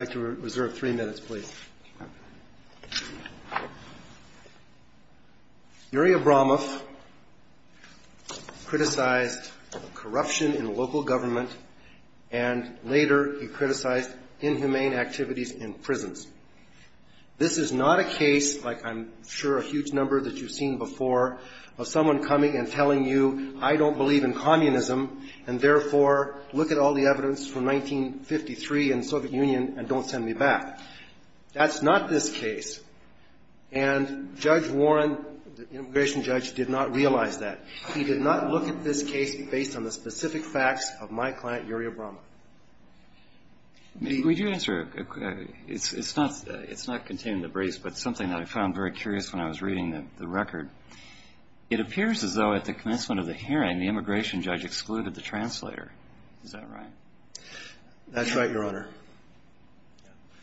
Yuri Abramov criticized corruption in local government and later he criticized inhumane activities in prisons. This is not a case like I'm sure a huge number that you've seen before of someone coming and telling you I don't believe in communism and therefore look at all the evidence from 1953 and the Soviet Union and don't send me back. That's not this case. And Judge Warren, the immigration judge, did not realize that. He did not look at this case based on the specific facts of my client, Yuri Abramov. We do answer, it's not contained in the briefs but something that I found very curious when I was reading the record. It appears as though at the commencement of the hearing the immigration judge excluded the translator. Is that right? That's right, Your Honor.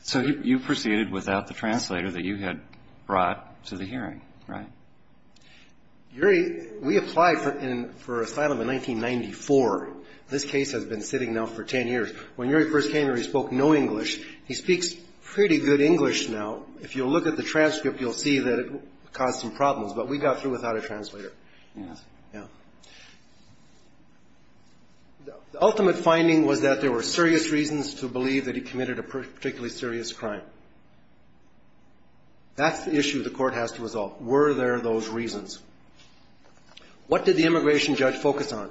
So you proceeded without the translator that you had brought to the hearing, right? Yuri, we applied for asylum in 1994. This case has been sitting now for ten years. When Yuri first came here he spoke no English. He speaks pretty good English now. If you'll look at the transcript you'll see that it caused some problems but we got through without a translator. The ultimate finding was that there were serious reasons to believe that he committed a particularly serious crime. That's the issue the court has to resolve. Were there those reasons? What did the immigration judge focus on?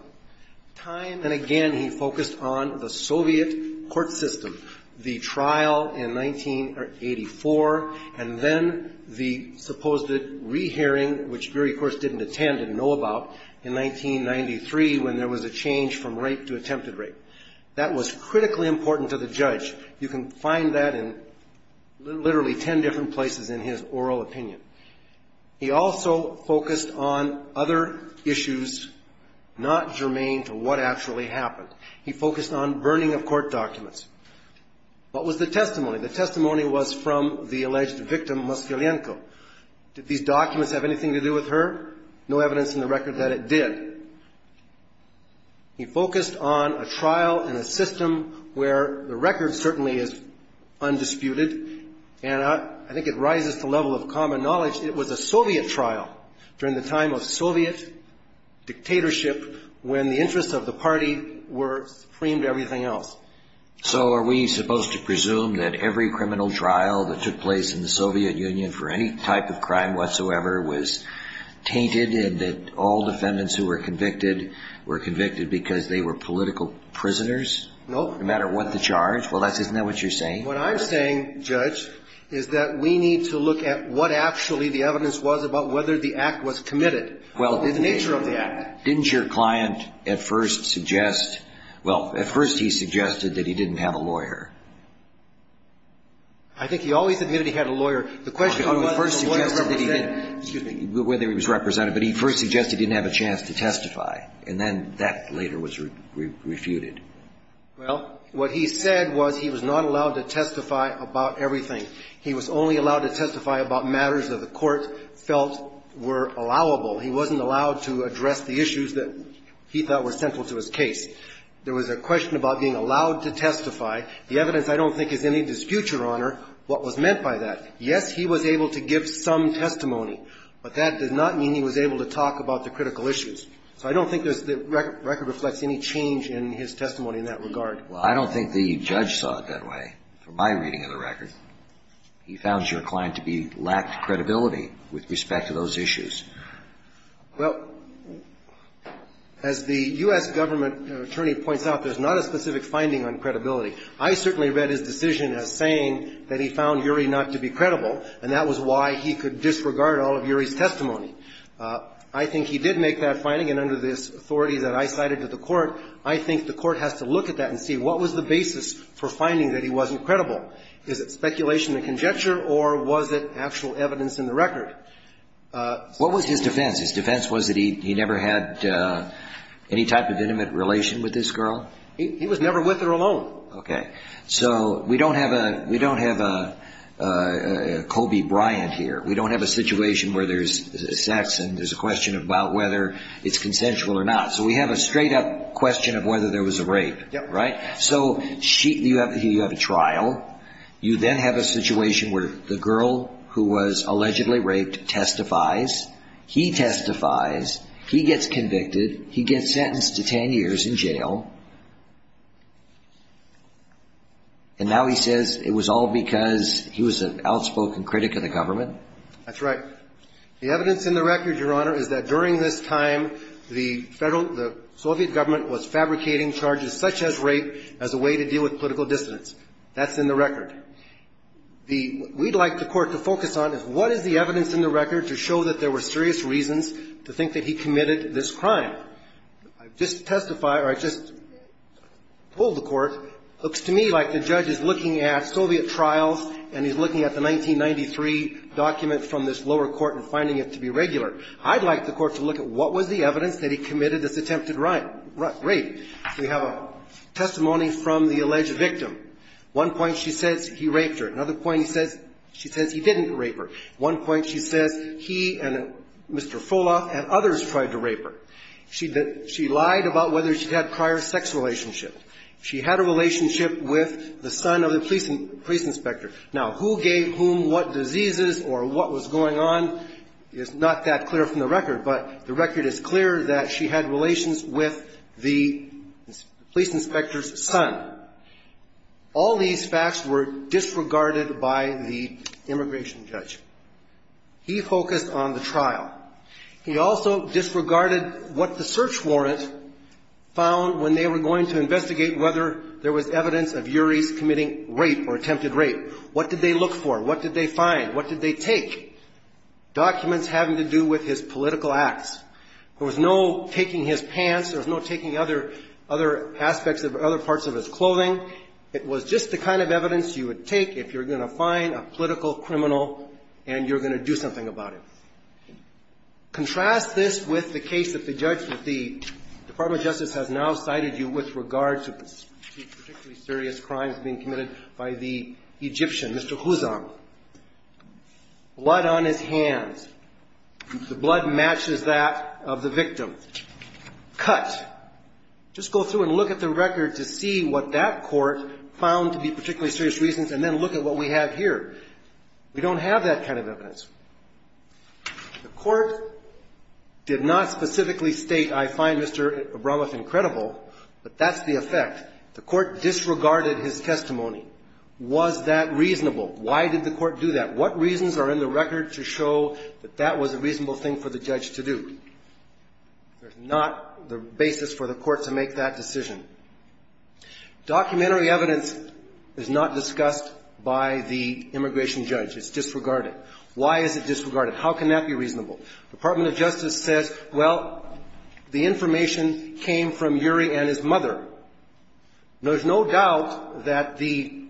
Time and again he focused on the Soviet court system, the trial in 1984 and then the supposed re-hearing which Yuri, of course, didn't attend and know about in 1993 when there was a change from rape to attempted rape. That was critically important to the judge. You can find that in literally ten different places in his oral opinion. He also focused on other issues not germane to what actually happened. He focused on burning of court documents. What was the testimony? The testimony was from the alleged victim Moskvilenko. Did these documents have anything to do with her? No evidence in the record that it did. He focused on a trial in a system where the record certainly is undisputed and I think it rises to the level of common knowledge it was a Soviet trial during the time of Soviet dictatorship when the So are we supposed to presume that every criminal trial that took place in the Soviet Union for any type of crime whatsoever was tainted and that all defendants who were convicted were convicted because they were political prisoners? No. No matter what the charge? Isn't that what you're saying? What I'm saying, Judge, is that we need to look at what actually the evidence was about whether the act was committed, the nature of the act. Didn't your client at first suggest, well, at first he suggested that he didn't have a lawyer? I think he always admitted he had a lawyer. The question was whether he was represented, but he first suggested he didn't have a chance to testify and then that later was refuted. Well, what he said was he was not allowed to testify about everything. He was only allowed to testify about matters that the court felt were allowable. He wasn't allowed to address the issues that he thought were central to his case. There was a question about being allowed to testify. The evidence, I don't think, is any dispute, Your Honor, what was meant by that. Yes, he was able to give some testimony, but that did not mean he was able to talk about the critical issues. So I don't think there's the record reflects any change in his testimony in that regard. Well, I don't think the judge saw it that way from my reading of the record. He found your client to be lacked credibility with respect to those issues. Well, as the U.S. government attorney points out, there's not a specific finding on credibility. I certainly read his decision as saying that he found Urey not to be credible, and that was why he could disregard all of Urey's testimony. I think he did make that finding, and under this authority that I cited to the court, I think the court has to look at that and see what was the basis for finding that he wasn't credible. Is it speculation and conjecture or was it actual evidence in the record? What was his defense? His defense was that he never had any type of intimate relation with this girl? He was never with her alone. Okay. So we don't have a Kobe Bryant here. We don't have a situation where there's sex and there's a question about whether it's consensual or not. So we have a straight-up question of whether there was a rape, right? So you have a trial. You then have a situation where the girl who was allegedly raped testifies. He testifies. He gets convicted. He gets sentenced to ten years in jail. And now he says it was all because he was an outspoken critic of the government? That's right. The evidence in the record, Your Honor, is that during this time, the Federal — the Soviet government was fabricating charges such as rape as a way to deal with political dissonance. That's in the record. The — what we'd like the Court to focus on is what is the evidence in the record to show that there were serious reasons to think that he committed this crime? I've just testified, or I've just told the Court, it looks to me like the judge is looking at Soviet trials and he's looking at the 1993 document from this lower court and finding it to be regular. I'd like the Court to look at what was the evidence that he committed this attempted rape. We have a testimony from the alleged victim. One point she says he raped her. Another point she says he didn't rape her. One point she says he and Mr. Fuloff and others tried to rape her. She lied about whether she had prior sex relationship. She had a relationship with the son of the police inspector. Now, who gave whom what diseases or what was going on is not that clear from the record, but the record is clear that she had relations with the police inspector's son. All these facts were disregarded by the immigration judge. He focused on the trial. He also disregarded what the search warrant found when they were going to investigate whether there was evidence of Uries committing rape or attempted rape. What did they look for? What did they find? What did they take? Documents having to do with his political acts. There was no taking his pants. There was no taking other aspects of other parts of his clothing. It was just the kind of evidence you would take if you're going to find a political criminal and you're going to do something about it. Contrast this with the case that the judge, that the Department of Justice has now cited you with regard to particularly serious crimes being committed by the Egyptian, Mr. Huzon. Blood on his hands. The blood matches that of the victim. Cut. Just go through and look at the record to see what that court found to be particularly serious reasons, and then look at what we have here. We don't have that kind of evidence. The court did not specifically state, I find Mr. Abramoff incredible, but that's the kind of evidence we have. That's the effect. The court disregarded his testimony. Was that reasonable? Why did the court do that? What reasons are in the record to show that that was a reasonable thing for the judge to do? There's not the basis for the court to make that decision. Documentary evidence is not discussed by the immigration judge. It's disregarded. Why is it disregarded? How can that be reasonable? The Department of Justice says, well, the information came from Uri and his mother. There's no doubt that the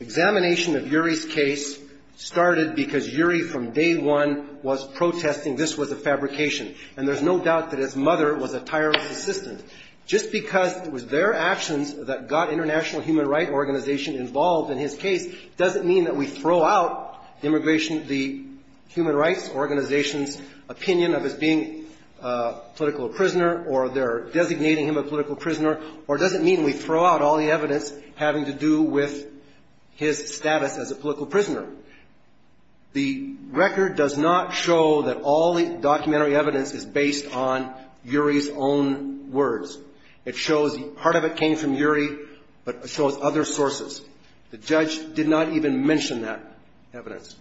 examination of Uri's case started because Uri from day one was protesting this was a fabrication. And there's no doubt that his mother was a tireless assistant. Just because it was their actions that got International Human Rights Organization involved in his case doesn't mean that we throw out immigration, the human rights organization's opinion of his being a political prisoner or they're designating him a political prisoner, or it doesn't mean we throw out all the evidence having to do with his status as a political prisoner. The record does not show that all the documentary evidence is based on Uri's own words. It shows part of it came from Uri, but it shows other sources. The judge did not even mention that evidence.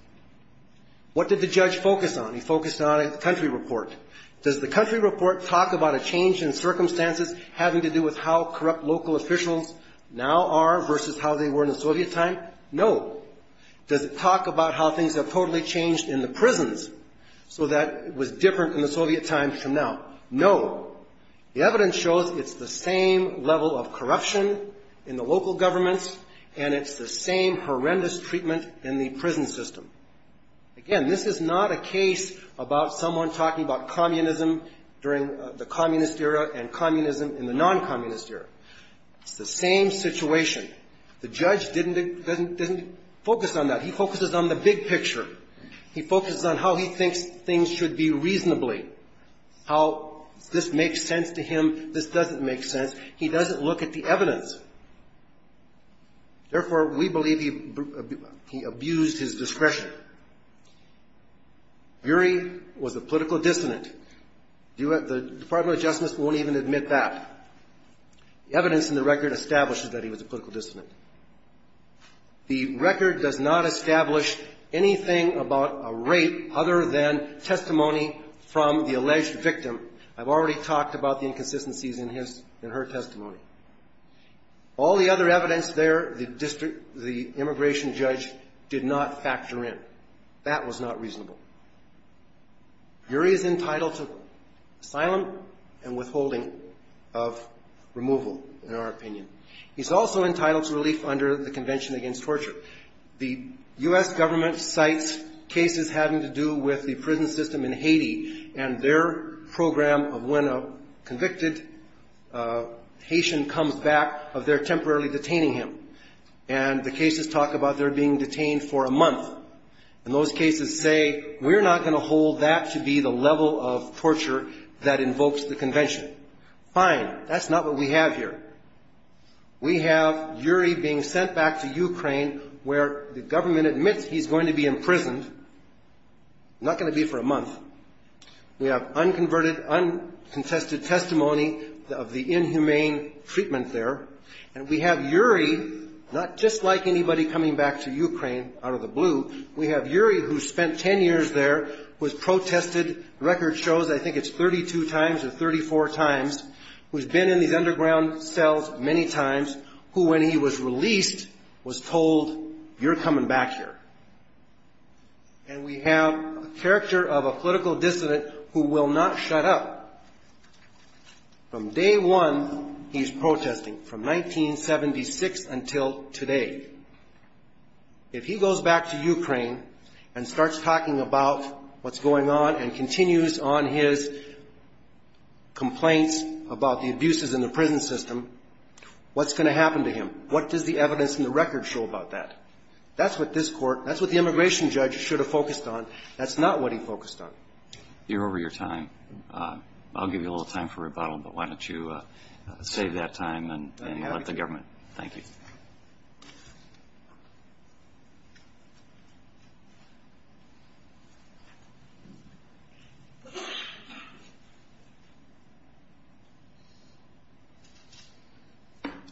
What did the judge focus on? He focused on a country report. Does the country report talk about a change in circumstances having to do with how corrupt local officials now are versus how they were in the Soviet time? No. Does it talk about how things have totally changed in the prisons so that it was different in the Soviet times from now? No. The evidence shows it's the same level of corruption in the local governments, and it's the same situation. Again, this is not a case about someone talking about communism during the communist era and communism in the non-communist era. It's the same situation. The judge didn't focus on that. He focuses on the big picture. He focuses on how he thinks things should be reasonably, how this makes sense to him, this doesn't make sense. He doesn't look at the evidence. Therefore, we believe he abused his discretion. Uri was a political dissident. The Department of Justice won't even admit that. The evidence in the record establishes that he was a political dissident. The record does not establish anything about a rape other than testimony from the alleged victim. I've already talked about the inconsistencies in his, in her testimony. All the other evidence there, the immigration judge did not factor in. That was not reasonable. Uri is entitled to asylum and withholding of removal, in our opinion. He's also entitled to relief under the Convention Against Torture. The U.S. government cites cases having to do with the prison system in Haiti and their program of when a convicted Haitian comes back of their temporarily detaining him, and the cases talk about their being detained for a month. And those cases say, we're not going to hold that to be the level of torture that invokes the convention. Fine. That's not what we have here. We have Uri being sent back to Ukraine where the government admits he's going to be imprisoned, not going to be for a month. We have unconverted, uncontested testimony of the U.S. government. We have Uri, like anybody coming back to Ukraine out of the blue, we have Uri who spent ten years there, who has protested record shows, I think it's 32 times or 34 times, who's been in these underground cells many times, who when he was released was told, you're coming back here. And we have a character of a political dissident who will not shut up. From day one, he's protesting, from 1976 until today. If he goes back to Ukraine and starts talking about what's going on and continues on his complaints about the abuses in the prison system, what's going to happen to him? What does the evidence in the record show about that? That's what this court, that's what the immigration judge should have focused on. That's not what he focused on. You're over your time. I'll give you a little time for rebuttal, but why don't you save that time and let the government. Thank you.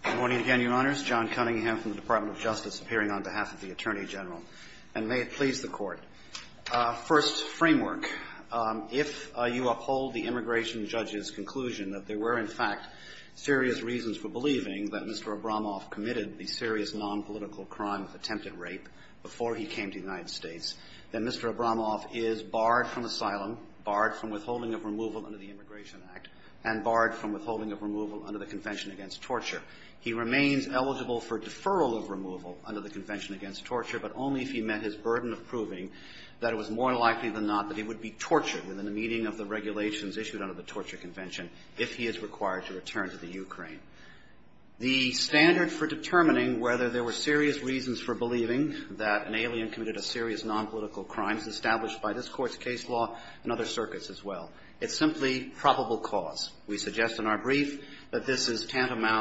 Good morning again, Your Honors. John Cunningham from the Department of Justice appearing on behalf of the Attorney General. And may it please the Court. First framework. If you uphold the immigration judge's conclusion that there were, in fact, serious reasons for believing that Mr. Abramoff committed the serious nonpolitical crime of attempted rape before he came to the United States, then Mr. Abramoff is barred from asylum, barred from withholding of removal under the Immigration Act, and barred from withholding of removal under the Convention Against Torture. He remains eligible for deferral of removal under the Convention Against Torture, but only if he met his burden of proving that it was more likely than not that he would be tortured within the meaning of the regulations issued under the Torture Convention, if he is required to return to the Ukraine. The standard for determining whether there were serious reasons for believing that an alien committed a serious nonpolitical crime is established by this Court's case law and other circuits as well. It's simply probable cause. We suggest in our brief that this is an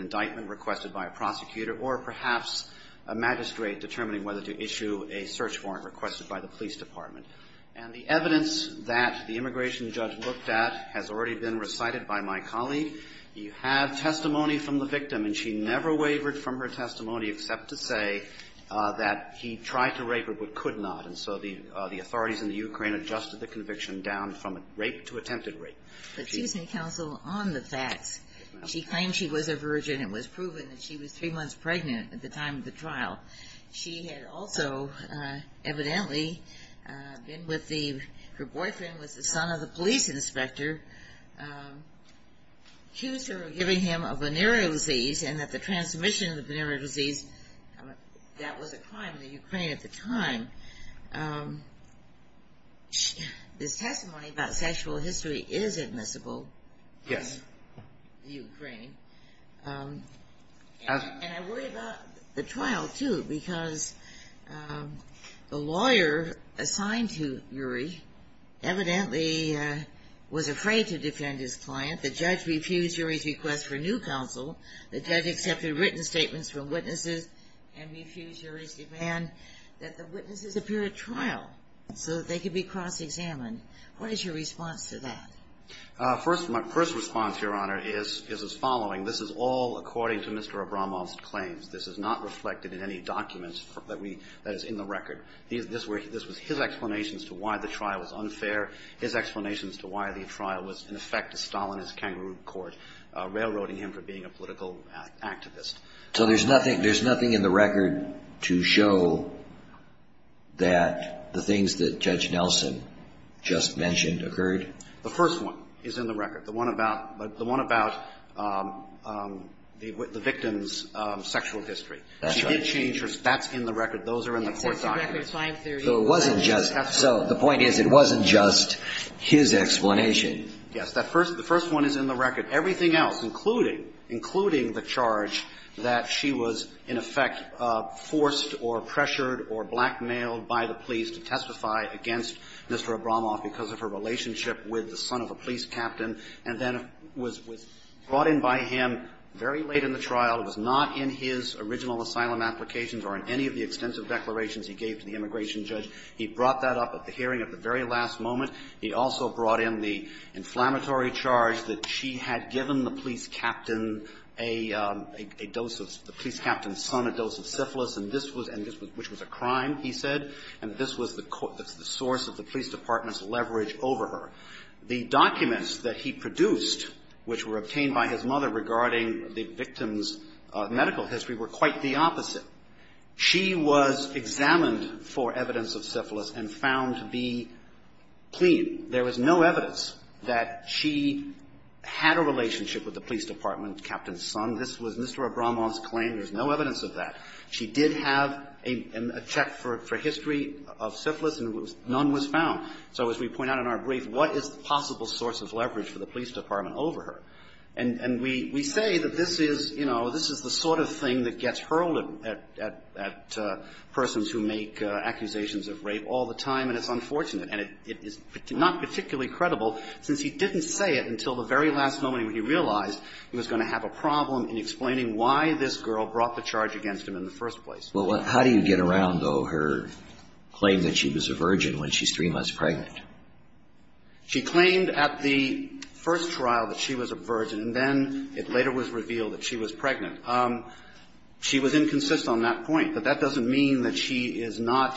indictment requested by a prosecutor or perhaps a magistrate determining whether to issue a search warrant requested by the police department. And the evidence that the immigration judge looked at has already been recited by my colleague. You have testimony from the victim, and she never wavered from her testimony except to say that he tried to rape her but could not. And so the authorities in the Ukraine adjusted the conviction down from rape to attempted rape. But she was in counsel on the facts. She claimed she was a virgin and it was proven that she was three months pregnant at the time of the trial. She had also evidently been with the, her boyfriend was the son of the police inspector, accused her of giving him a venereal disease and that the transmission of the venereal disease, that was a crime in the Ukraine at the time. This testimony about sexual history is admissible in the Ukraine. And I worry about the trial too because the lawyer assigned to Uri evidently was afraid to defend his client. The judge refused Uri's request for new counsel. The judge accepted written statements from witnesses and refused Uri's demand that the witnesses appear at trial so that they could be cross-examined. What is your response to that? My first response, Your Honor, is as following. This is all according to Mr. Abramov's claims. This is not reflected in any documents that is in the record. This was his explanations to why the trial was unfair. His explanations to why the trial was, in effect, a political act, activist. So there's nothing, there's nothing in the record to show that the things that Judge Nelson just mentioned occurred? The first one is in the record. The one about, the one about the victim's sexual history. That's right. She did change her, that's in the record. Those are in the court documents. So it wasn't just, so the point is it wasn't just his explanation. Yes. That first, the first one is in the record. Everything else, including, including the charge that she was, in effect, forced or pressured or blackmailed by the police to testify against Mr. Abramov because of her relationship with the son of a police captain and then was, was brought in by him very late in the trial. It was not in his original asylum applications or in any of the extensive declarations he gave to the immigration judge. He brought that up at the hearing at the very last moment. He also brought in the inflammatory charge that she had given the police captain a, a dose of, the police captain's son a dose of syphilis and this was, and this was, which was a crime, he said, and this was the source of the police department's leverage over her. The documents that he produced, which were obtained by his mother regarding the victim's medical history, were quite the opposite. She was examined for evidence of syphilis and found to be clean. There was no evidence that she had a relationship with the police department captain's son. This was Mr. Abramov's claim. There's no evidence of that. She did have a, a check for, for history of syphilis and none was found. So as we point out in our brief, what is the possible source of leverage for the police department over her? And, and we, we say that this is, you know, this is the sort of thing that gets hurled at, at, at persons who make accusations of rape all the time and it's unfortunate and it, it is not particularly credible since he didn't say it until the very last moment when he realized he was going to have a problem in explaining why this girl brought the charge against him in the first place. Well, how do you get around, though, her claim that she was a virgin when she's three months pregnant? She claimed at the first trial that she was a virgin and then it later was revealed that she was pregnant. She was inconsistent on that point. But that doesn't mean that she is not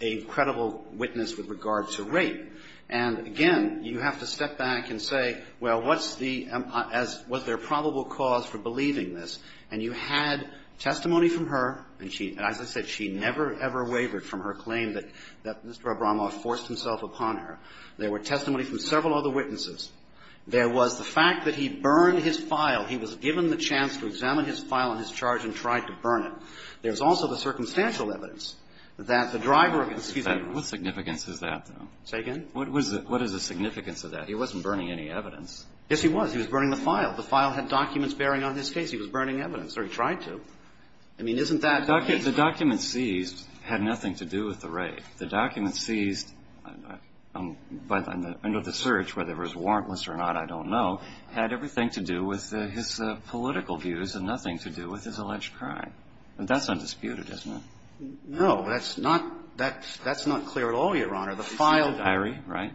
a credible witness with regard to rape. And, again, you have to step back and say, well, what's the, as, was there probable cause for believing this? And you had testimony from her and she, as I said, she never, ever wavered from her claim that, that Mr. Abramoff forced himself upon her. There were testimony from several other witnesses. There was the fact that he burned his file. He was given the chance to examine his file and his charge and tried to burn it. There's also the circumstantial evidence that the driver of the, excuse me. What significance is that, though? Say again? What was the, what is the significance of that? He wasn't burning any evidence. Yes, he was. He was burning the file. The file had documents bearing on his case. He was burning evidence, or he tried to. I mean, isn't that the case? The document seized had nothing to do with the rape. The document seized under the search, whether it was warrantless or not, I don't know, had everything to do with his political views and nothing to do with his alleged crime. That's undisputed, isn't it? No, that's not, that's not clear at all, Your Honor. The file. He seized a diary, right?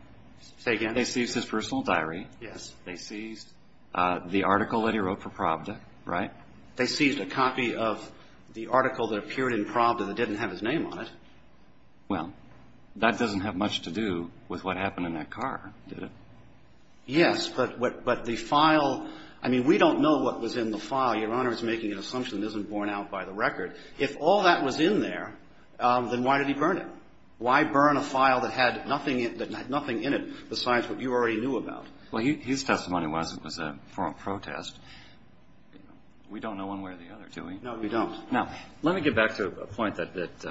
Say again? He seized his personal diary. Yes. They seized the article that he wrote for Pravda, right? They seized a copy of the article that appeared in Pravda that didn't have his name on it. Well, that doesn't have much to do with what happened in that car, did it? Yes, but the file, I mean, we don't know what was in the file. Your Honor is making an assumption that isn't borne out by the record. If all that was in there, then why did he burn it? Why burn a file that had nothing in it besides what you already knew about? Well, his testimony was a formal protest. We don't know one way or the other, do we? No, we don't. Now, let me get back to a point that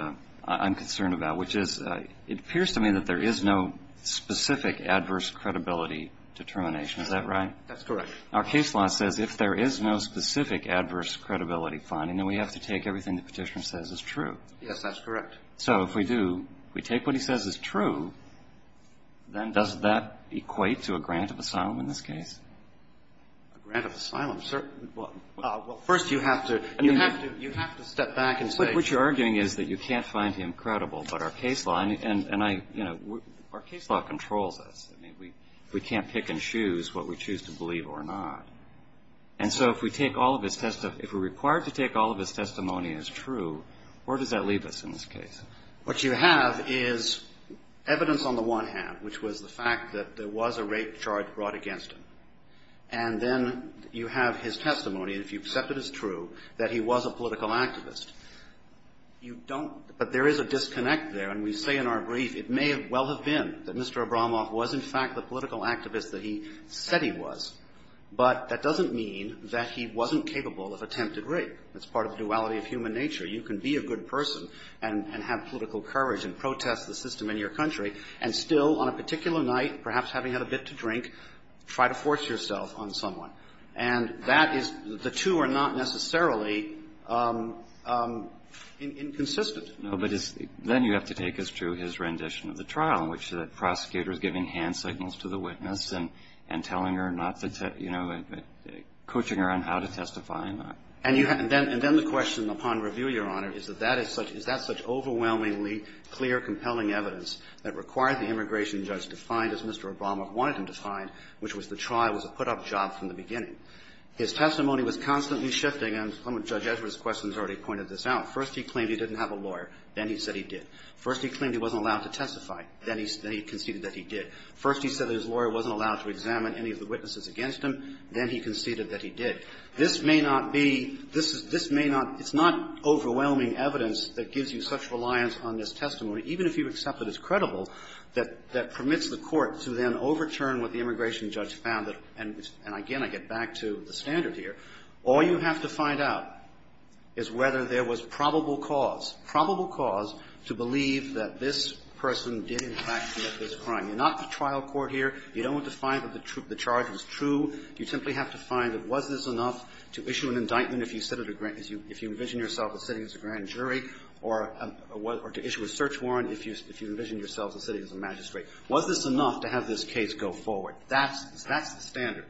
I'm concerned about, which is it appears to me that there is no specific adverse credibility determination. Is that right? That's correct. Our case law says if there is no specific adverse credibility finding, then we have to take everything the Petitioner says is true. Yes, that's correct. So if we do, if we take what he says is true, then does that equate to a grant of asylum in this case? A grant of asylum? Well, first you have to step back and say. But what you're arguing is that you can't find him credible, but our case law, and I, you know, our case law controls us. I mean, we can't pick and choose what we choose to believe or not. And so if we take all of his testimony, if we're required to take all of his testimony as true, where does that leave us in this case? What you have is evidence on the one hand, which was the fact that there was a rape charge brought against him. And then you have his testimony, and if you accept it as true, that he was a political activist. You don't, but there is a disconnect there. And we say in our brief, it may well have been that Mr. Abramoff was in fact the political activist that he said he was, but that doesn't mean that he wasn't capable of attempted rape. That's part of the duality of human nature. You can be a good person and have political courage and protest the system in your country, and still on a particular night, perhaps having had a bit to drink, try to force yourself on someone. And that is the two are not necessarily inconsistent. No, but then you have to take us to his rendition of the trial in which the prosecutor is giving hand signals to the witness and telling her not to, you know, coaching her on how to testify and that. And then the question upon review, Your Honor, is that that is such – is that such overwhelmingly clear, compelling evidence that required the immigration judge to find, as Mr. Abramoff wanted him to find, which was the trial was a put-up job from the beginning. His testimony was constantly shifting, and Judge Ezra's questions already pointed this out. First, he claimed he didn't have a lawyer. Then he said he did. First, he claimed he wasn't allowed to testify. Then he conceded that he did. First, he said that his lawyer wasn't allowed to examine any of the witnesses against him. Then he conceded that he did. This may not be – this is – this may not – it's not overwhelming evidence that gives you such reliance on this testimony, even if you accept that it's credible, that permits the court to then overturn what the immigration judge found. And again, I get back to the standard here. All you have to find out is whether there was probable cause, probable cause to believe that this person did, in fact, commit this crime. You're not the trial court here. You don't want to find that the charge was true. You simply have to find that was this enough to issue an indictment if you sit at a – if you envision yourself as sitting as a grand jury, or to issue a search warrant if you envision yourself as sitting as a magistrate? Was this enough to have this case go forward? That's the standard.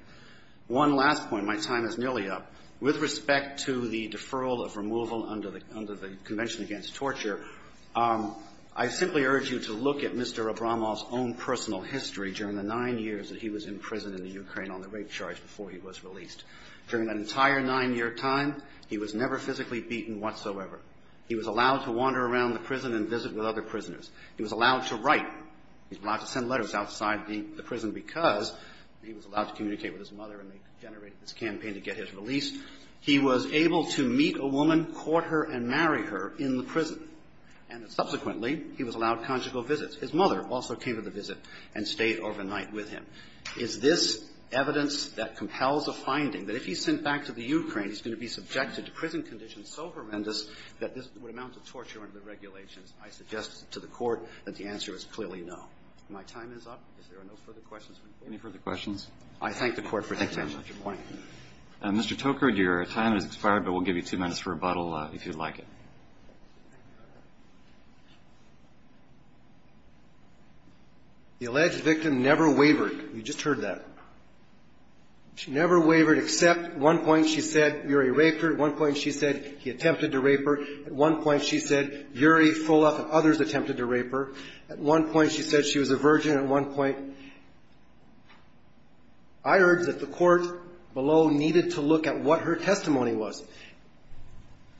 One last point. My time is nearly up. With respect to the deferral of removal under the Convention Against Torture, I simply urge you to look at Mr. Abramoff's own personal history during the nine years that he was in prison in the Ukraine on the rape charge before he was released. During that entire nine-year time, he was never physically beaten whatsoever. He was allowed to wander around the prison and visit with other prisoners. He was allowed to write. He was allowed to send letters outside the prison because he was allowed to communicate with his mother, and they generated this campaign to get his release. He was able to meet a woman, court her, and marry her in the prison, and subsequently he was allowed conjugal visits. His mother also came to the visit and stayed overnight with him. Is this evidence that compels a finding that if he's sent back to the Ukraine, he's going to be subjected to prison conditions so horrendous that this would amount to torture under the regulations? I suggest to the Court that the answer is clearly no. My time is up. If there are no further questions, we're adjourned. Roberts. Any further questions? Roberts. I thank the Court for taking such a point. Mr. Toker, your time has expired, but we'll give you two minutes for rebuttal if you'd like it. The alleged victim never wavered. You just heard that. She never wavered except at one point she said Yuri raped her. At one point she said he attempted to rape her. At one point she said Yuri, full of others, attempted to rape her. At one point she said she was a virgin. At one point I heard that the Court below needed to look at what her testimony was.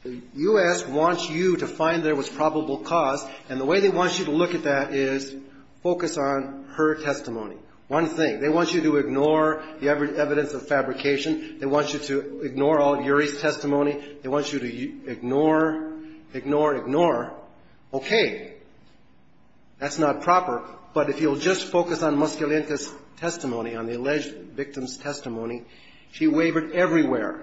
The U.S. wants you to find there was probable cause, and the way they want you to look at that is focus on her testimony. One thing. They want you to ignore the evidence of fabrication. They want you to ignore all Yuri's testimony. They want you to ignore, ignore, ignore. Okay. That's not proper, but if you'll just focus on Moskalenko's testimony, on the alleged victim's testimony, she wavered everywhere.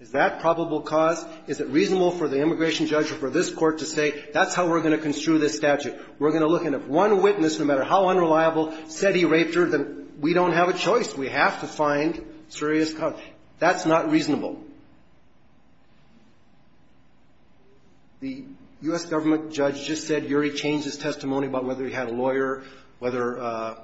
Is that probable cause? Is it reasonable for the immigration judge or for this Court to say that's how we're going to construe this statute? We're going to look and if one witness, no matter how unreliable, said he raped her, then we don't have a choice. We have to find serious cause. That's not reasonable. The U.S. government judge just said Yuri changed his testimony about whether he had a lawyer, whether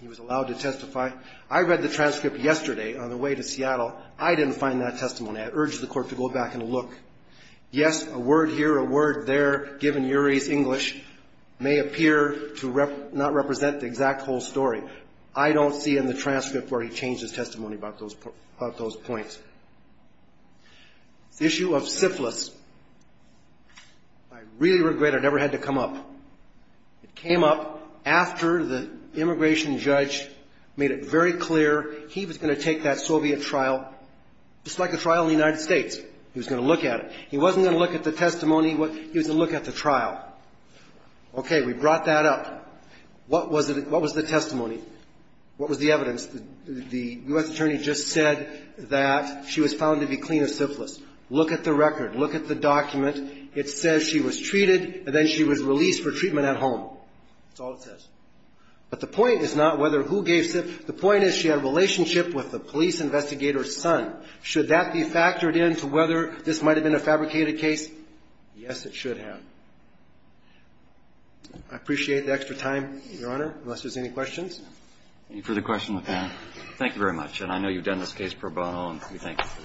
he was allowed to testify. I read the transcript yesterday on the way to Seattle. I didn't find that testimony. I urge the Court to go back and look. Yes, a word here, a word there, given Yuri's English, may appear to not represent the exact whole story. I don't see in the transcript where he changed his testimony about those points. The issue of syphilis. I really regret it never had to come up. It came up after the immigration judge made it very clear he was going to take that Soviet trial, just like the trial in the United States. He was going to look at it. He wasn't going to look at the testimony. He was going to look at the trial. Okay. We brought that up. What was the testimony? What was the evidence? The U.S. attorney just said that she was found to be clean of syphilis. Look at the record. Look at the document. It says she was treated, and then she was released for treatment at home. That's all it says. But the point is not whether who gave syphilis. The point is she had a relationship with the police investigator's son. Should that be factored into whether this might have been a fabricated case? Yes, it should have. I appreciate the extra time, Your Honor, unless there's any questions. Any further questions? Thank you very much. And I know you've done this case pro bono, and we thank you for that. Thank you. Thank you.